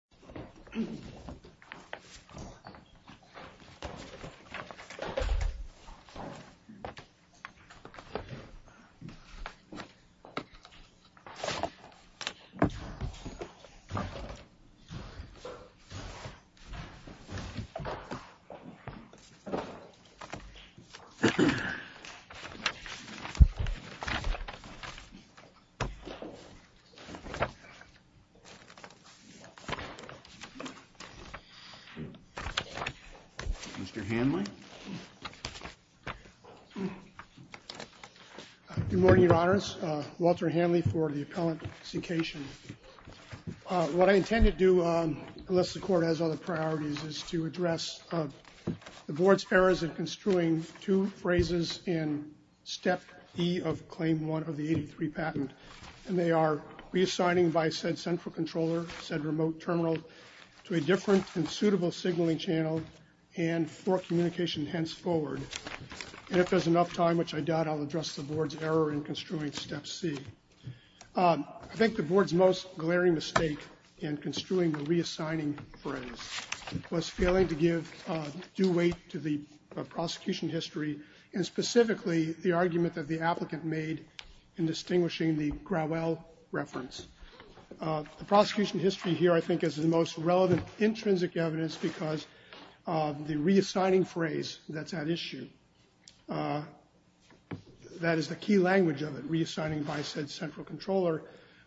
The C-Cation Technologies, LLC, Mr. Hanley. Good morning, Your Honors. Walter Hanley for the Appellant C-Cation. What I intend to do, unless the Court has other priorities, is to address the Board's errors in construing two phrases in Step E of Claim 1 of the 83 patent, and they are reassigning by said central controller, said remote terminal, to a different and suitable signaling channel, and for communication henceforward. And if there's enough time, which I doubt, I'll address the Board's error in construing Step C. I think the Board's most glaring mistake in construing the reassigning phrase was failing to give due weight to the prosecution history, and specifically the argument that the applicant made in distinguishing the Growell reference. The prosecution history here, I think, is the most relevant intrinsic evidence because the reassigning phrase that's at issue, that is the key language of it, reassigning by said central controller,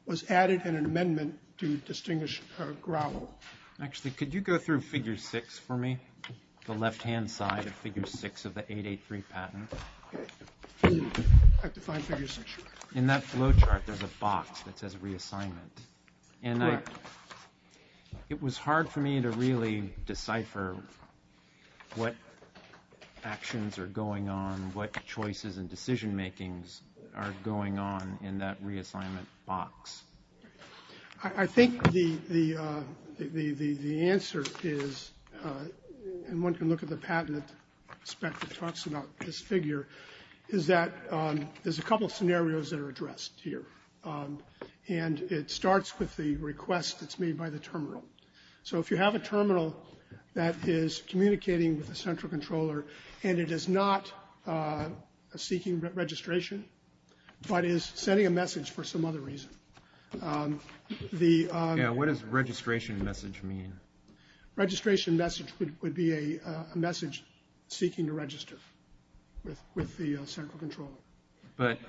was added in an amendment to distinguish Growell. Actually, could you go through Figure 6 for me, the left-hand side of the 883 patent? I have to find Figure 6. In that flow chart, there's a box that says reassignment, and it was hard for me to really decipher what actions are going on, what choices and decision-makings are going on in that reassignment box. I think the answer is, and one can look at the patent spec that talks about this figure, is that there's a couple of scenarios that are addressed here, and it starts with the request that's made by the terminal. So if you have a terminal that is communicating with a central controller, and it is not seeking registration, but is sending a message for some other reason, what does registration message mean? Registration message would be a message seeking to register with the central controller. But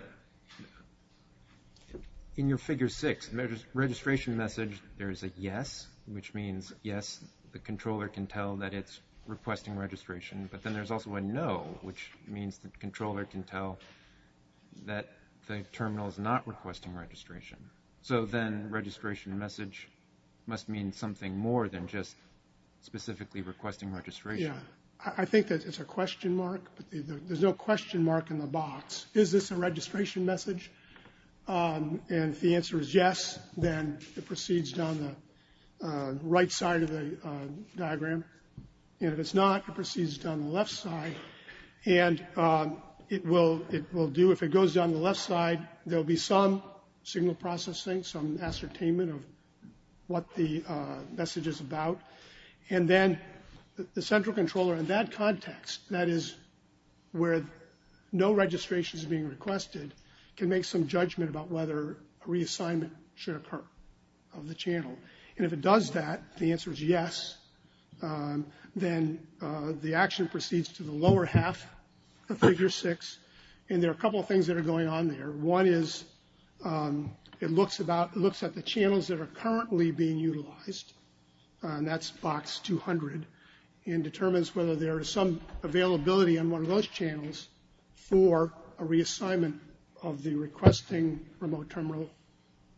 in your Figure 6, the registration message, there is a yes, which means, yes, the controller can tell that it's requesting registration, but then there's also a no, which means the then registration message must mean something more than just specifically requesting registration. I think that it's a question mark, but there's no question mark in the box. Is this a registration message? And if the answer is yes, then it proceeds down the right side of the diagram, and if it's not, it proceeds down the left side, and it will do, if it goes down the left side, there'll be some signal processing, some ascertainment of what the message is about, and then the central controller in that context, that is where no registration is being requested, can make some judgment about whether a reassignment should occur of the channel. And if it does that, the answer is yes, then the action proceeds to the lower half of Figure 6, and there are a couple things that are going on there. One is, it looks at the channels that are currently being utilized, and that's box 200, and determines whether there is some availability on one of those channels for a reassignment of the requesting remote terminal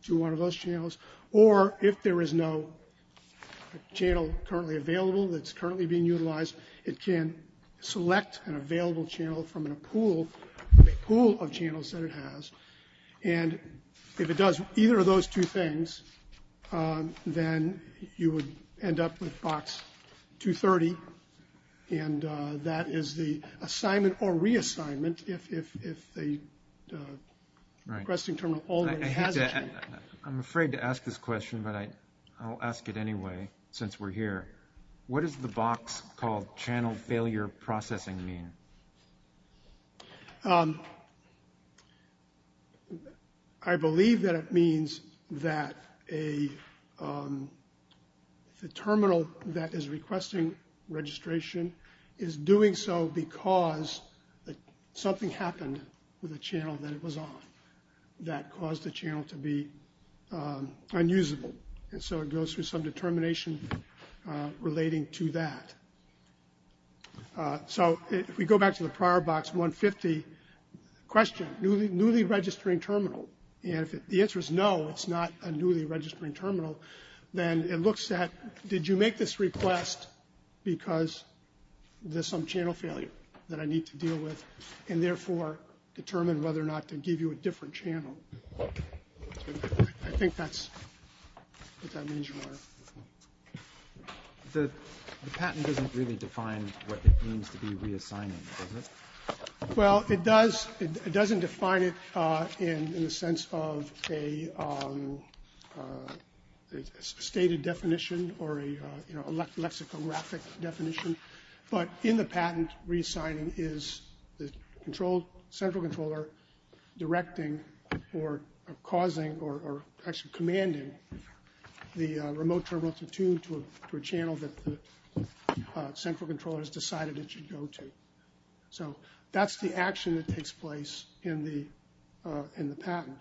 to one of those channels, or if there is no channel currently available that's currently being utilized, it can select an available channel from a pool of channels that it has, and if it does either of those two things, then you would end up with box 230, and that is the assignment or reassignment if the requesting terminal already has a channel. I'm afraid to ask this question, but I'll ask it anyway, since we're here. What does the box called channel failure processing mean? I believe that it means that the terminal that is requesting registration is doing so because something happened with a channel that it was on that caused the termination relating to that. So if we go back to the prior box 150 question, newly registering terminal, and if the answer is no, it's not a newly registering terminal, then it looks at, did you make this request because there's some channel failure that I need to deal with, and therefore determine whether or not to give you a different channel. I think that's what that means, Your Honor. The patent doesn't really define what it means to be reassigning, does it? Well, it does. It doesn't define it in the sense of a stated definition or a lexicographic definition, but in the patent, reassigning is the central controller directing or causing or actually commanding the remote terminal to tune to a channel that the central controller has decided it should go to. So that's the action that takes place in the patent.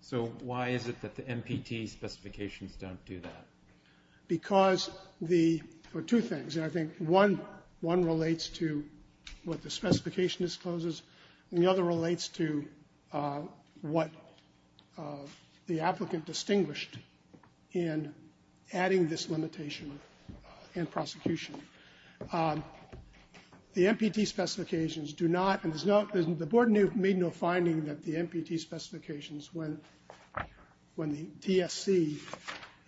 So why is it that the MPT specifications don't do that? Because there are two things, and I think one relates to what the specification discloses, and the other relates to what the applicant distinguished in adding this limitation and prosecution. The MPT specifications do not, and the board made no finding that the MPT specifications, when the DSC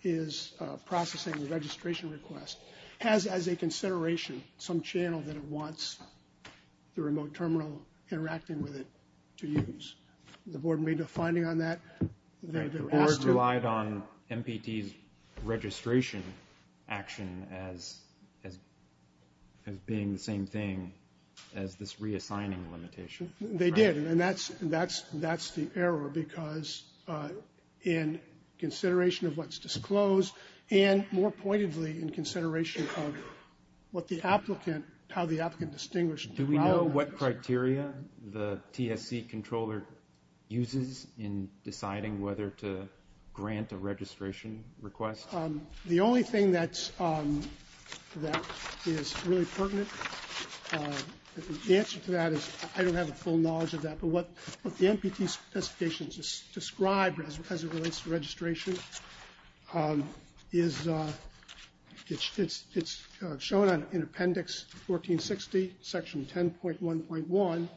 is processing the registration request, has as a consideration some channel that it wants the remote terminal interacting with it to use. The board made no finding on that. The board relied on MPT's registration action as being the same thing as this reassigning limitation. They did, and that's the error, because in consideration of what's disclosed and more pointedly in consideration of what the applicant, how the applicant distinguished. Do we know what criteria the TSC controller uses in deciding whether to grant a registration request? The only thing that's, that is really pertinent, the answer to that is I don't have a full knowledge of that, but what the MPT specifications describe as it relates to registration is, it's shown in appendix 1460, section 10.1.1, and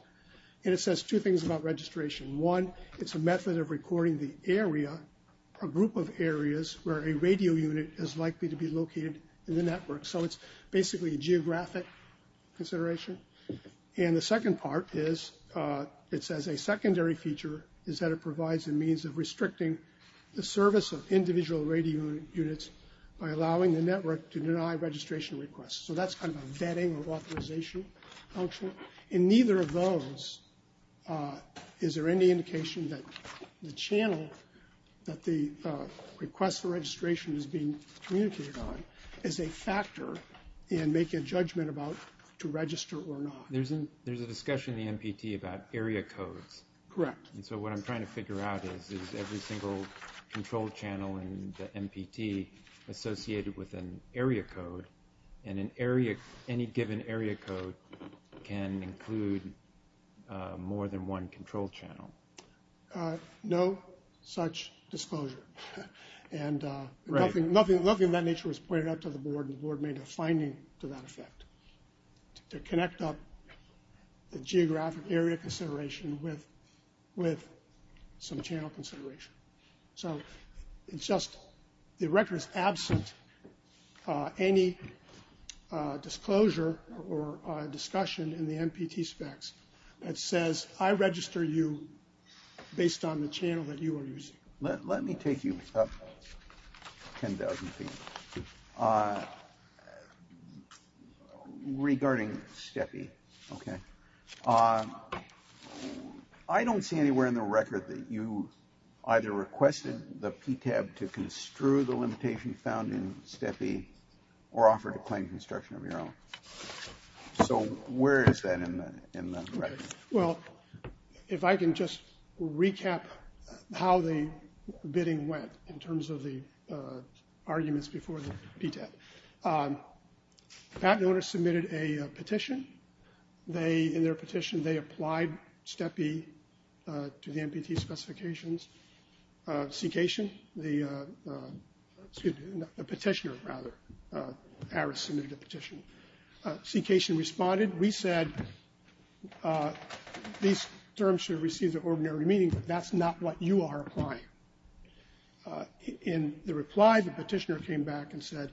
it says two things about registration. One, it's a method of recording the area, a group of areas where a radio unit is likely to be located in the network. So it's basically a secondary feature is that it provides a means of restricting the service of individual radio units by allowing the network to deny registration requests. So that's kind of a vetting or authorization function. In neither of those, is there any indication that the channel that the request for registration is being communicated on is a factor in making a judgment about to register or not? There's a discussion in the MPT about area codes. Correct. And so what I'm trying to figure out is, is every single control channel in the MPT associated with an area code, and an area, any given area code can include more than one control channel. No such disclosure, and nothing of that nature was pointed out to the board, and the board made a finding to that they picked up the geographic area consideration with some channel consideration. So it's just, the record is absent any disclosure or discussion in the MPT specs that says I register you based on the channel that you are using. Let me take you up 10,000 feet. Regarding STEPI, okay, I don't see anywhere in the record that you either requested the PTAB to construe the limitation found in STEPI or offer to claim construction of your own. So where is that in the record? Well, if I can just recap how the bidding went in terms of the PTAB. The patent owner submitted a petition. They, in their petition, they applied STEPI to the MPT specifications. CECATION, the, excuse me, the petitioner, rather, ARIS submitted a petition. CECATION responded, we said these terms should receive the ordinary meaning, but that's not what you are applying. In the reply, the petitioner came back and said,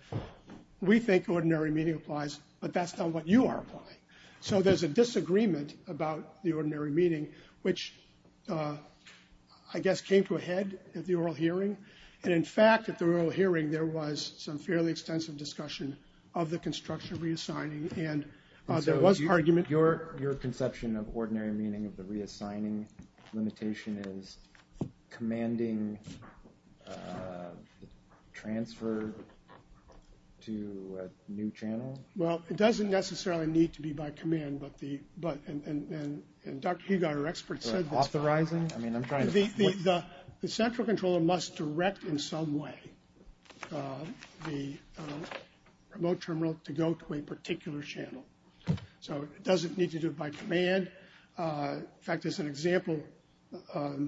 we think ordinary meaning applies, but that's not what you are applying. So there's a disagreement about the ordinary meaning, which, I guess, came to a head at the oral hearing. And in fact, at the oral hearing, there was some fairly extensive discussion of the construction reassigning, and there was argument. Your, your conception of ordinary meaning of the reassigning limitation is commanding transfer to a new channel? Well, it doesn't necessarily need to be by command, but the, but, and, and, and, and Dr. Hugot, our expert, said this. Authorizing? I mean, I'm trying to. The, the, the central controller must direct in some way the remote terminal to go to a particular channel. So it doesn't need to do it by command. In fact, there's an example. What,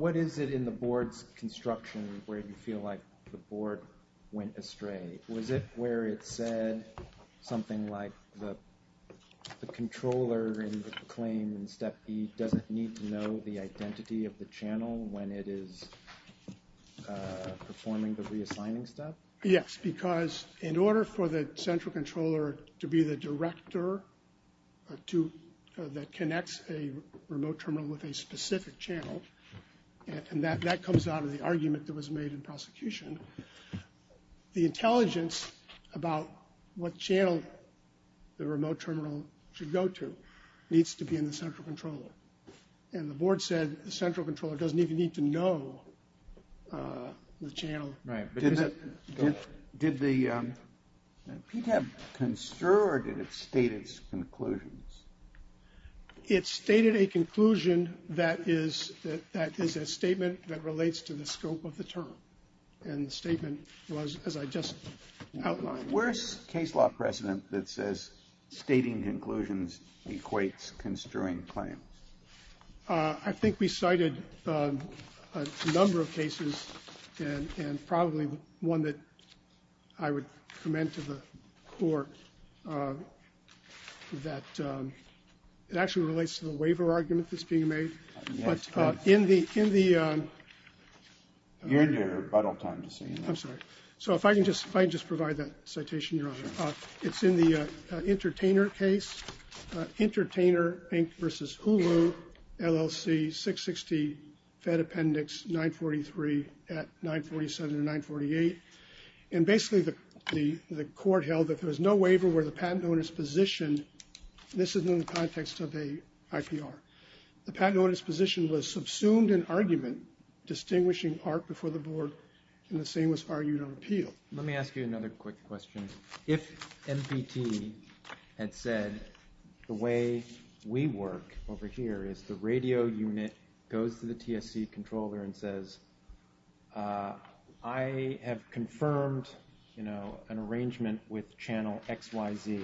what is it in the board's construction where you feel like the board went astray? Was it where it said something like the, the controller in the claim in step B doesn't need to know the identity of the channel when it is performing the reassigning step? Yes, because in order for the central controller to be the director to, that connects a remote terminal with a specific channel. And that, that comes out of the argument that was made in prosecution. The intelligence about what channel the remote terminal should go to needs to be in the central controller. And the board said the central controller doesn't even know the channel. Right. Did the, did the PTAB construe or did it state its conclusions? It stated a conclusion that is, that is a statement that relates to the scope of the term. And the statement was, as I just outlined. Where's case law precedent that says stating conclusions equates construing claims? I think we cited a number of cases and, and probably one that I would commend to the court that it actually relates to the waiver argument that's being made. But in the, in the. You're in your rebuttal time. I'm sorry. So if I can just, if I can just provide that citation, Your Honor. It's in the Entertainer case. Entertainer Inc. versus Hulu LLC 660 Fed Appendix 943 at 947 and 948. And basically the, the, the court held that there was no waiver where the patent owner's position, this is in the context of a IPR. The patent owner's position was subsumed in argument, distinguishing part before the board, and the same was argued on appeal. Let me ask you another quick question. If MPT had said the way we work over here is the radio unit goes to the TSC controller and says I have confirmed, you know, an arrangement with channel XYZ.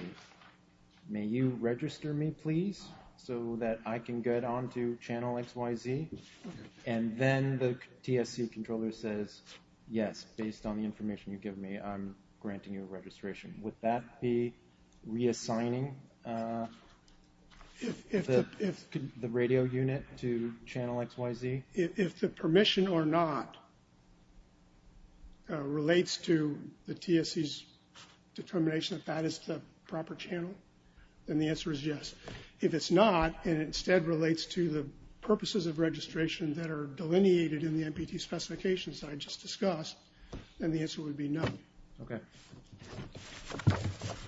May you register me please so that I can get on to channel XYZ? And then the TSC controller says, yes, based on the information you give me, I'm granting you a registration. Would that be reassigning the radio unit to channel XYZ? If the permission or not relates to the TSC's determination that that is the proper channel, then the answer is yes. If it's not, and it instead relates to the purposes of registration that are delineated in the MPT specifications that I just discussed, then the answer would be no. Okay.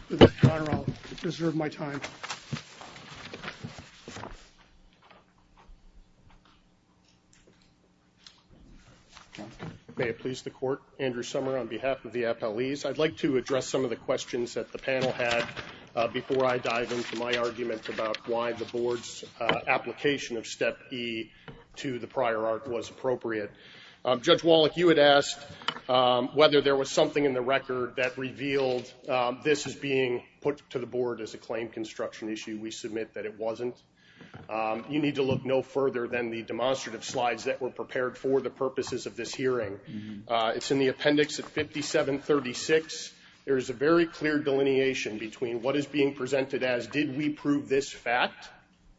With that, Your Honor, I'll reserve my time. Thank you. May it please the court, Andrew Sommer on behalf of the FLEs. I'd like to address some of the questions that the panel had before I dive into my argument about why the board's application of step E to the prior art was appropriate. Judge Wallach, you had asked whether there was something in the that it wasn't. You need to look no further than the demonstrative slides that were prepared for the purposes of this hearing. It's in the appendix at 5736. There is a very clear delineation between what is being presented as did we prove this fact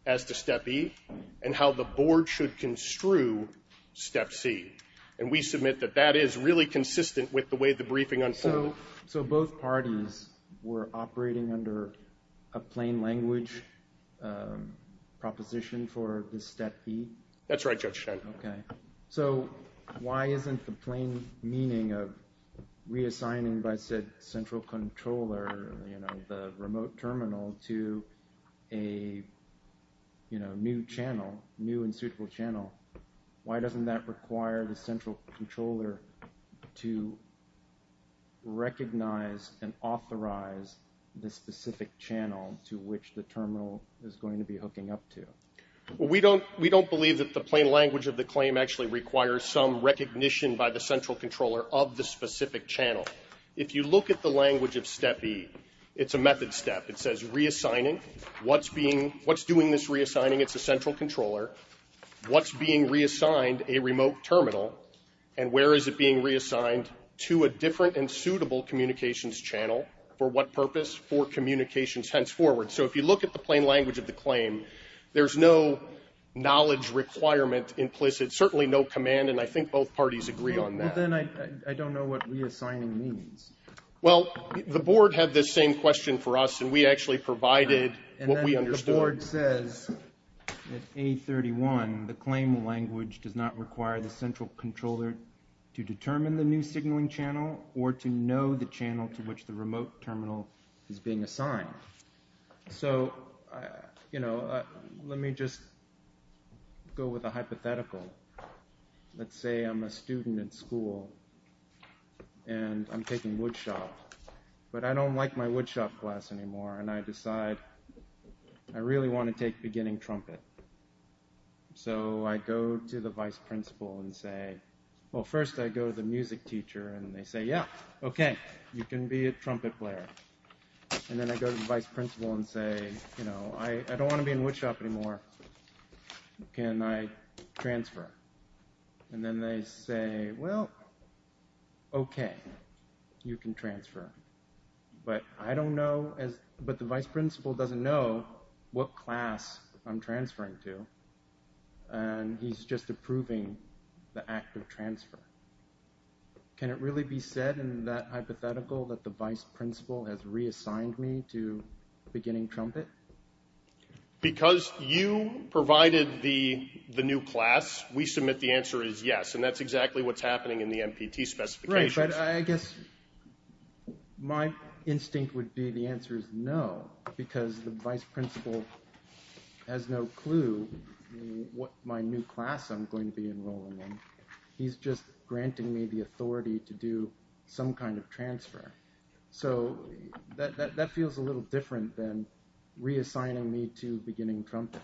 as to step E and how the board should construe step C. And we submit that that is really consistent with the way the briefing unfolded. So both parties were operating under a plain language proposition for this step E? That's right, Judge Schen. Okay. So why isn't the plain meaning of reassigning by said central controller, you know, the remote terminal to a, you know, new channel, new and suitable channel, why doesn't that require the central controller to recognize and authorize the specific channel to which the terminal is going to be hooking up to? We don't believe that the plain language of the claim actually requires some recognition by the central controller of the specific channel. If you look at the language of step E, it's a method step. It says reassigning. What's doing this reassigning? It's a central controller. What's being reassigned a remote terminal and where is it being reassigned to a different and suitable communications channel? For what purpose? For communications henceforward. So if you look at the plain language of the claim, there's no knowledge requirement implicit, certainly no command, and I think both parties agree on that. But then I don't know what reassigning means. Well, the board had this same question for us and we actually provided what we understood. The board says that A31, the claim language does not require the central controller to determine the new signaling channel or to know the channel to which the remote terminal is being assigned. So, you know, let me just go with a hypothetical. Let's say I'm a student in school and I'm taking woodshop, but I don't like my woodshop class anymore and I decide, I really want to take beginning trumpet. So I go to the vice principal and say, well, first I go to the music teacher and they say, yeah, okay, you can be a trumpet player. And then I go to the vice principal and say, you know, I don't want to be in woodshop anymore. Can I transfer? And then they say, well, okay, you can transfer. But I don't know, but the vice principal doesn't know what class I'm transferring to. And he's just approving the act of transfer. Can it really be said in that hypothetical that the vice principal has reassigned me to beginning trumpet? Because you provided the new class, we submit the answer is yes. And that's exactly what's happening in the MPT specifications. I guess my instinct would be the answer is no, because the vice principal has no clue what my new class I'm going to be enrolling in. He's just granting me the authority to do some kind of transfer. So that feels a little different than reassigning me to beginning trumpet.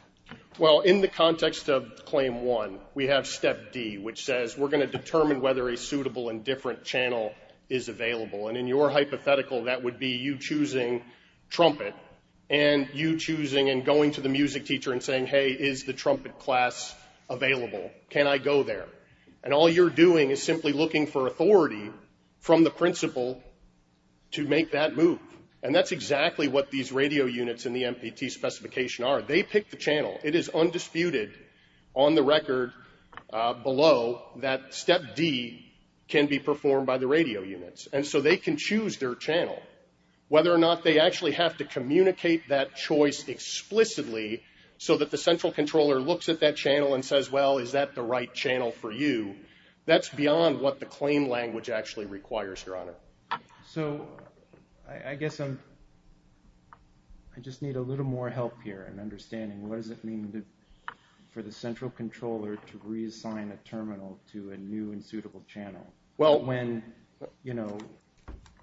Well, in the context of claim one, we have step D, which says we're going to determine whether a suitable and different channel is available. And in your hypothetical, that would be you choosing trumpet and you choosing and going to the music teacher and saying, hey, is the trumpet class available? Can I go there? And all you're doing is simply looking for authority from the principal to make that move. And that's exactly what these radio units in the MPT can be performed by the radio units. And so they can choose their channel, whether or not they actually have to communicate that choice explicitly so that the central controller looks at that channel and says, well, is that the right channel for you? That's beyond what the claim language actually requires, Your Honor. So I guess I just need a little more help here in understanding what does it mean for the central controller to reassign a terminal to a new and suitable channel? Well, when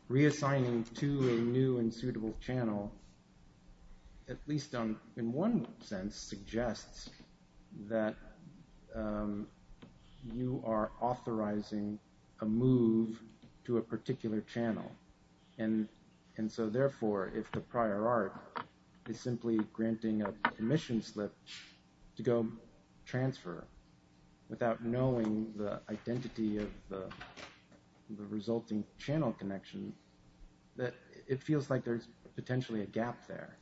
reassigning to a new and suitable channel, at least in one sense suggests that you are authorizing a move to a particular channel. And so therefore, if the prior art is simply granting a commission slip to go transfer without knowing the identity of the resulting channel connection, that it feels like there's potentially a gap there.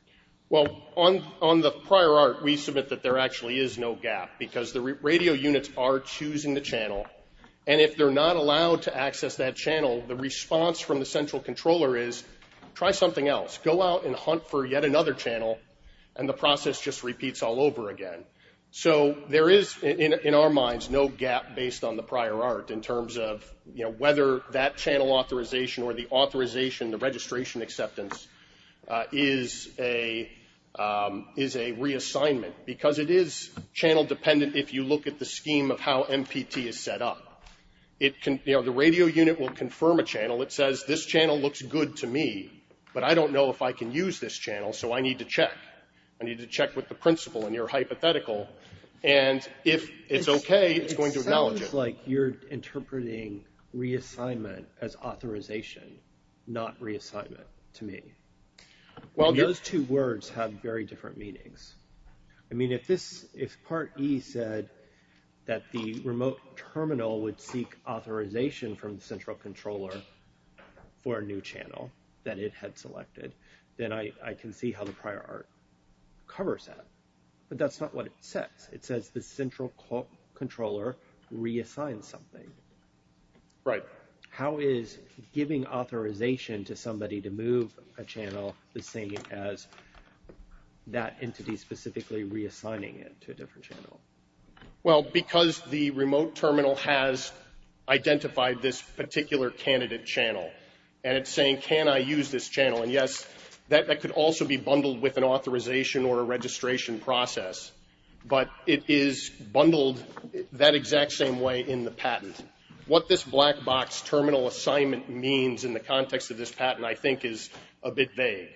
Well, on the prior art, we submit that there actually is no gap because the radio units are choosing the channel. And if they're not allowed to access that channel, the response from the channel, and the process just repeats all over again. So there is, in our minds, no gap based on the prior art in terms of whether that channel authorization or the authorization, the registration acceptance, is a reassignment. Because it is channel dependent if you look at the scheme of how MPT is set up. The radio unit will confirm a channel. It says, this channel looks good to me. But I don't know if I can use this channel. So I need to check. I need to check with the principal and your hypothetical. And if it's OK, it's going to acknowledge it. It sounds like you're interpreting reassignment as authorization, not reassignment to me. Those two words have very different meanings. I mean, if part E said that the remote terminal would seek authorization from the central controller for a new channel that it had selected, then I can see how the prior art covers that. But that's not what it says. It says the central controller reassigns something. Right. How is giving authorization to somebody to move a channel the same as that entity specifically reassigning it to a different channel? Well, because the remote terminal has identified this particular candidate channel and it's saying, can I use this channel? And yes, that could also be bundled with an authorization or a registration process. But it is bundled that exact same way in the patent. What this black box terminal assignment means in the context of this patent, I think, is a bit vague.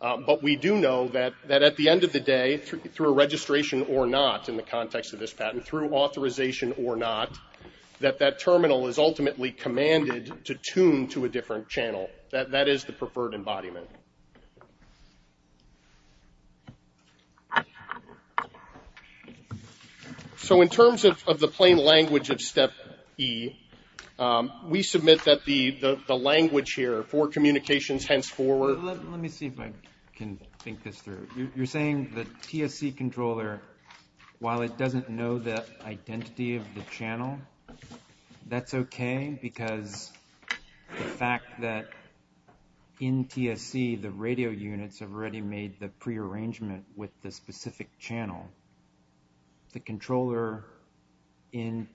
But we do know that at the end of the day, through a registration or not in the context of this patent, through authorization or not, that that terminal is ultimately commanded to tune to a different channel. That is the preferred embodiment. So in terms of the plain language of step E, we submit that the language here hence forward. Let me see if I can think this through. You're saying the TSC controller, while it doesn't know the identity of the channel, that's okay because the fact that in TSC, the radio units have already made the prearrangement with the specific channel. The controller in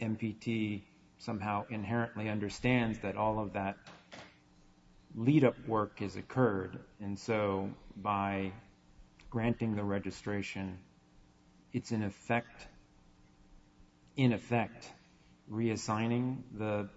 MPT somehow inherently understands that all of that lead up work has occurred. And so by granting the registration, it's in effect reassigning the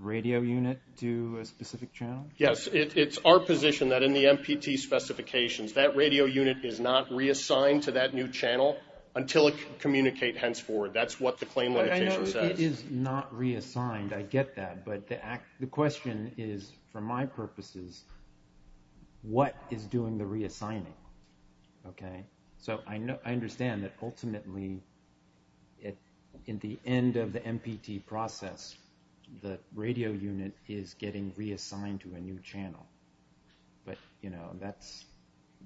radio unit to a specific channel? Yes. It's our position that in the MPT specifications, that radio unit is not reassigned to that new channel until it can communicate henceforward. That's what the claim limitation says. It is not reassigned. I get that. But the question is, for my purposes, what is doing the reassigning? So I understand that ultimately, at the end of the MPT process, the radio unit is getting reassigned to a new channel. But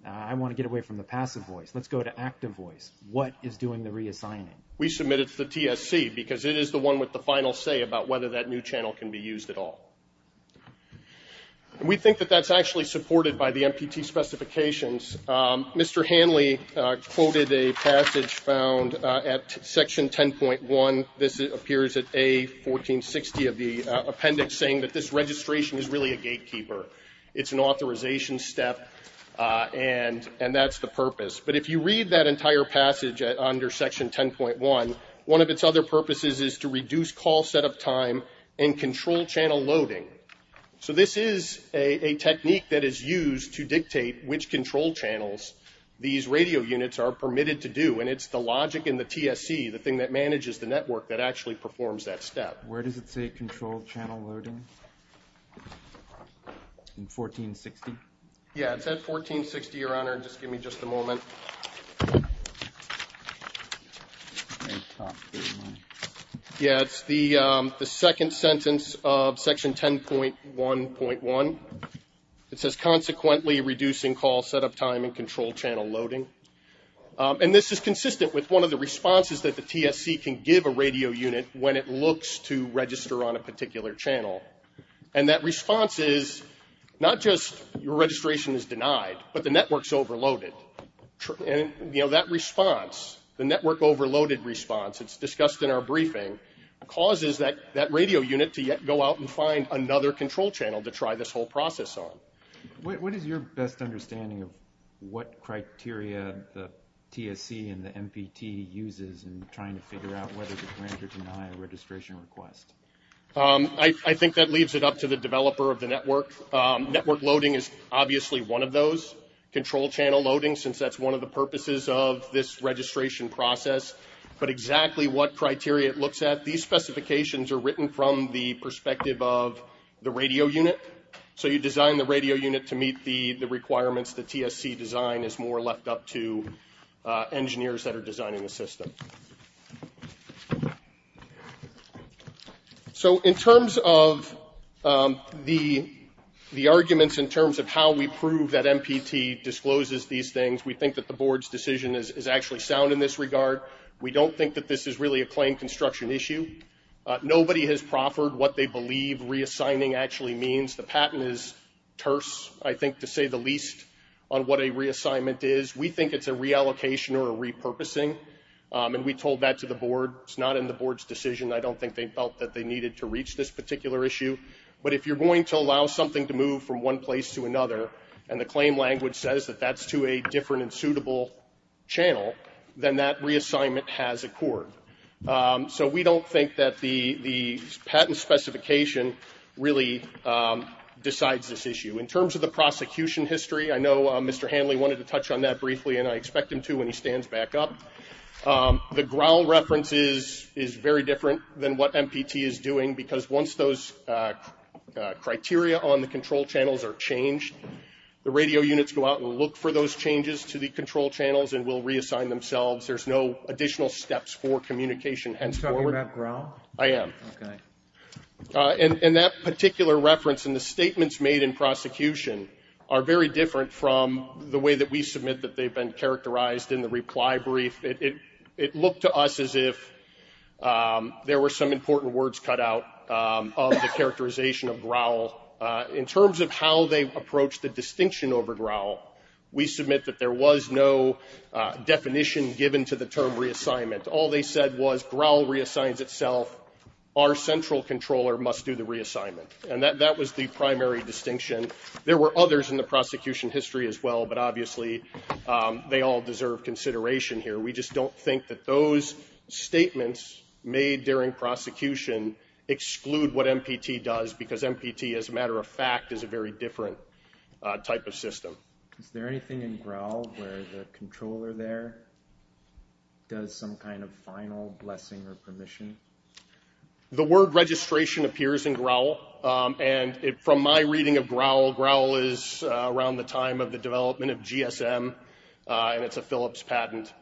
I want to get away from the passive voice. Let's go to active voice. What is doing the reassigning? We submit it to the TSC because it is the one with the final say about whether that new channel can be used at all. We think that that's actually supported by the MPT specifications. Mr. Hanley quoted a passage found at section 10.1. This appears at A1460 of the appendix saying that this registration is really a gatekeeper. It's an authorization step. And that's the purpose. But if you read that entire passage under section 10.1, one of its other purposes is to reduce call set up time and control channel loading. So this is a technique that is used to dictate which channels these radio units are permitted to do. And it's the logic in the TSC, the thing that manages the network, that actually performs that step. Where does it say control channel loading? In 1460? Yeah, it's at 1460, Your Honor. Just give me just a moment. Yeah, it's the second sentence of section 10.1.1. It says consequently reducing call set up time and control channel loading. And this is consistent with one of the responses that the TSC can give a radio unit when it looks to register on a particular channel. And that response is not just your registration is denied, but the network's overloaded. And that response, the network overloaded response, it's discussed in our briefing, causes that radio unit to yet go out and find another control channel to try this whole process on. What is your best understanding of what criteria the TSC and the MPT uses in trying to figure out whether to grant or deny a registration request? I think that leaves it up to the developer of the network. Network loading is obviously one of those. Control channel loading, since that's one of the purposes of this registration process. But exactly what criteria it looks at, these specifications are written from the perspective of the radio unit. So you design the radio unit to meet the requirements. The TSC design is more left up to engineers that are designing the system. So in terms of the arguments in terms of how we prove that MPT discloses these things, we think that the board's decision is actually sound in this regard. We don't think that this is really a claim construction issue. Nobody has proffered what they believe reassigning actually means. The patent is terse, I think, to say the least, on what a reassignment is. We think it's a reallocation or a repurposing. And we told that to the board. It's not in the board's decision. I don't think they felt that they needed to reach this particular issue. But if you're going to allow something to move from one place to another, and the claim language says that that's to a different and suitable channel, then that reassignment has accord. So we don't think that the patent specification really decides this issue. In terms of the prosecution history, I know Mr. Hanley wanted to touch on that briefly, and I expect him to when he stands back up. The ground reference is very different than what MPT is doing, because once those criteria on the control channels are changed, the radio units go out and look for those changes to the control channels, and will reassign themselves. There's no additional steps for communication. You're talking about growl? I am. And that particular reference in the statements made in prosecution are very different from the way that we submit that they've been characterized in the reply brief. It looked to us as if there were some important words cut out of the characterization of growl. In terms of how they approach the distinction over growl, we submit that there was no definition given to the term reassignment. All they said was growl reassigns itself, our central controller must do the reassignment. And that was the primary distinction. There were others in the prosecution history as well, but obviously they all deserve consideration here. We just don't think that those statements made during prosecution exclude what MPT does, because MPT, as a matter of fact, is a very different type of system. Is there anything in growl where the controller there does some kind of final blessing or permission? The word registration appears in growl, and from my reading of growl, growl is around the time of the development of GSM, and it's a Phillips patent.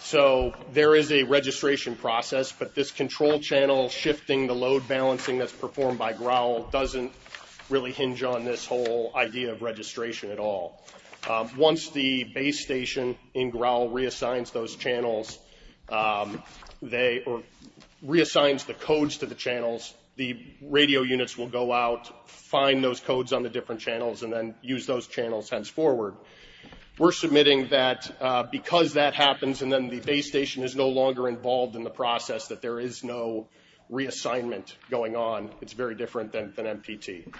So there is a registration process, but this control channel shifting the load balancing that's performed by growl doesn't really hinge on this whole idea of registration at all. Once the base station in growl reassigns those channels, reassigns the codes to the channels, the radio units will go out, find those codes on the different channels, and then use those channels henceforward. We're submitting that because that happens and then the base station is no longer involved in the process, that there is no reassignment going on. It's very different than MPT.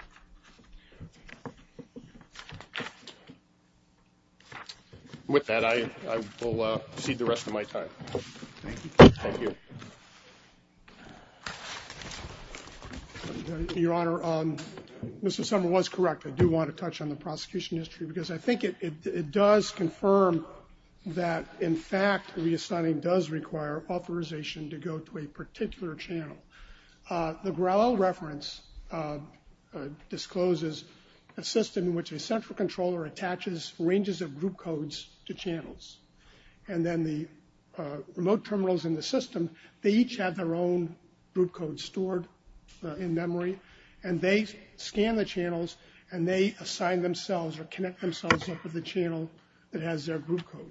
With that, I will cede the rest of my time. Thank you. Your Honor, Mr. Sumner was correct. I do want to touch on the prosecution history, because I think it does confirm that in fact reassigning does require authorization to go to a particular channel. The growl reference discloses a system in which a central controller attaches ranges of group codes to channels, and then the remote terminals in the system, they each have their own group code stored in memory, and they scan the channels, and they assign themselves or connect themselves up with the channel that has their group code.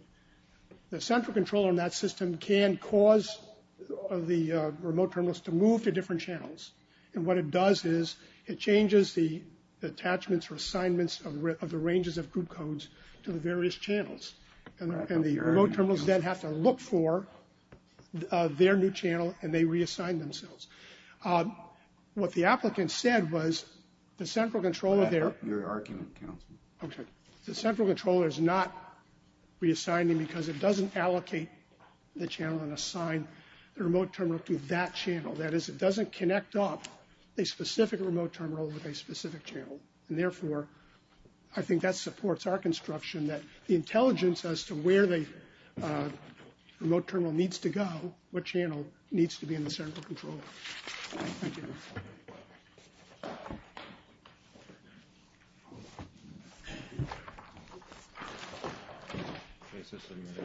The central controller in that system can cause the remote terminals to move to different channels, and what it does is it changes the attachments or assignments of the ranges of group codes to the various channels, and the remote terminals then have to look for their new channel, and they reassign themselves. What the applicant said was the central controller there, the central controller is not reassigning because it doesn't allocate the channel and assign the remote terminal to that channel. That is, it doesn't connect up a specific remote terminal with a specific channel, and therefore, I think that supports our construction that the intelligence as to where the remote terminal needs to go, what channel needs to be in the central controller. Thank you.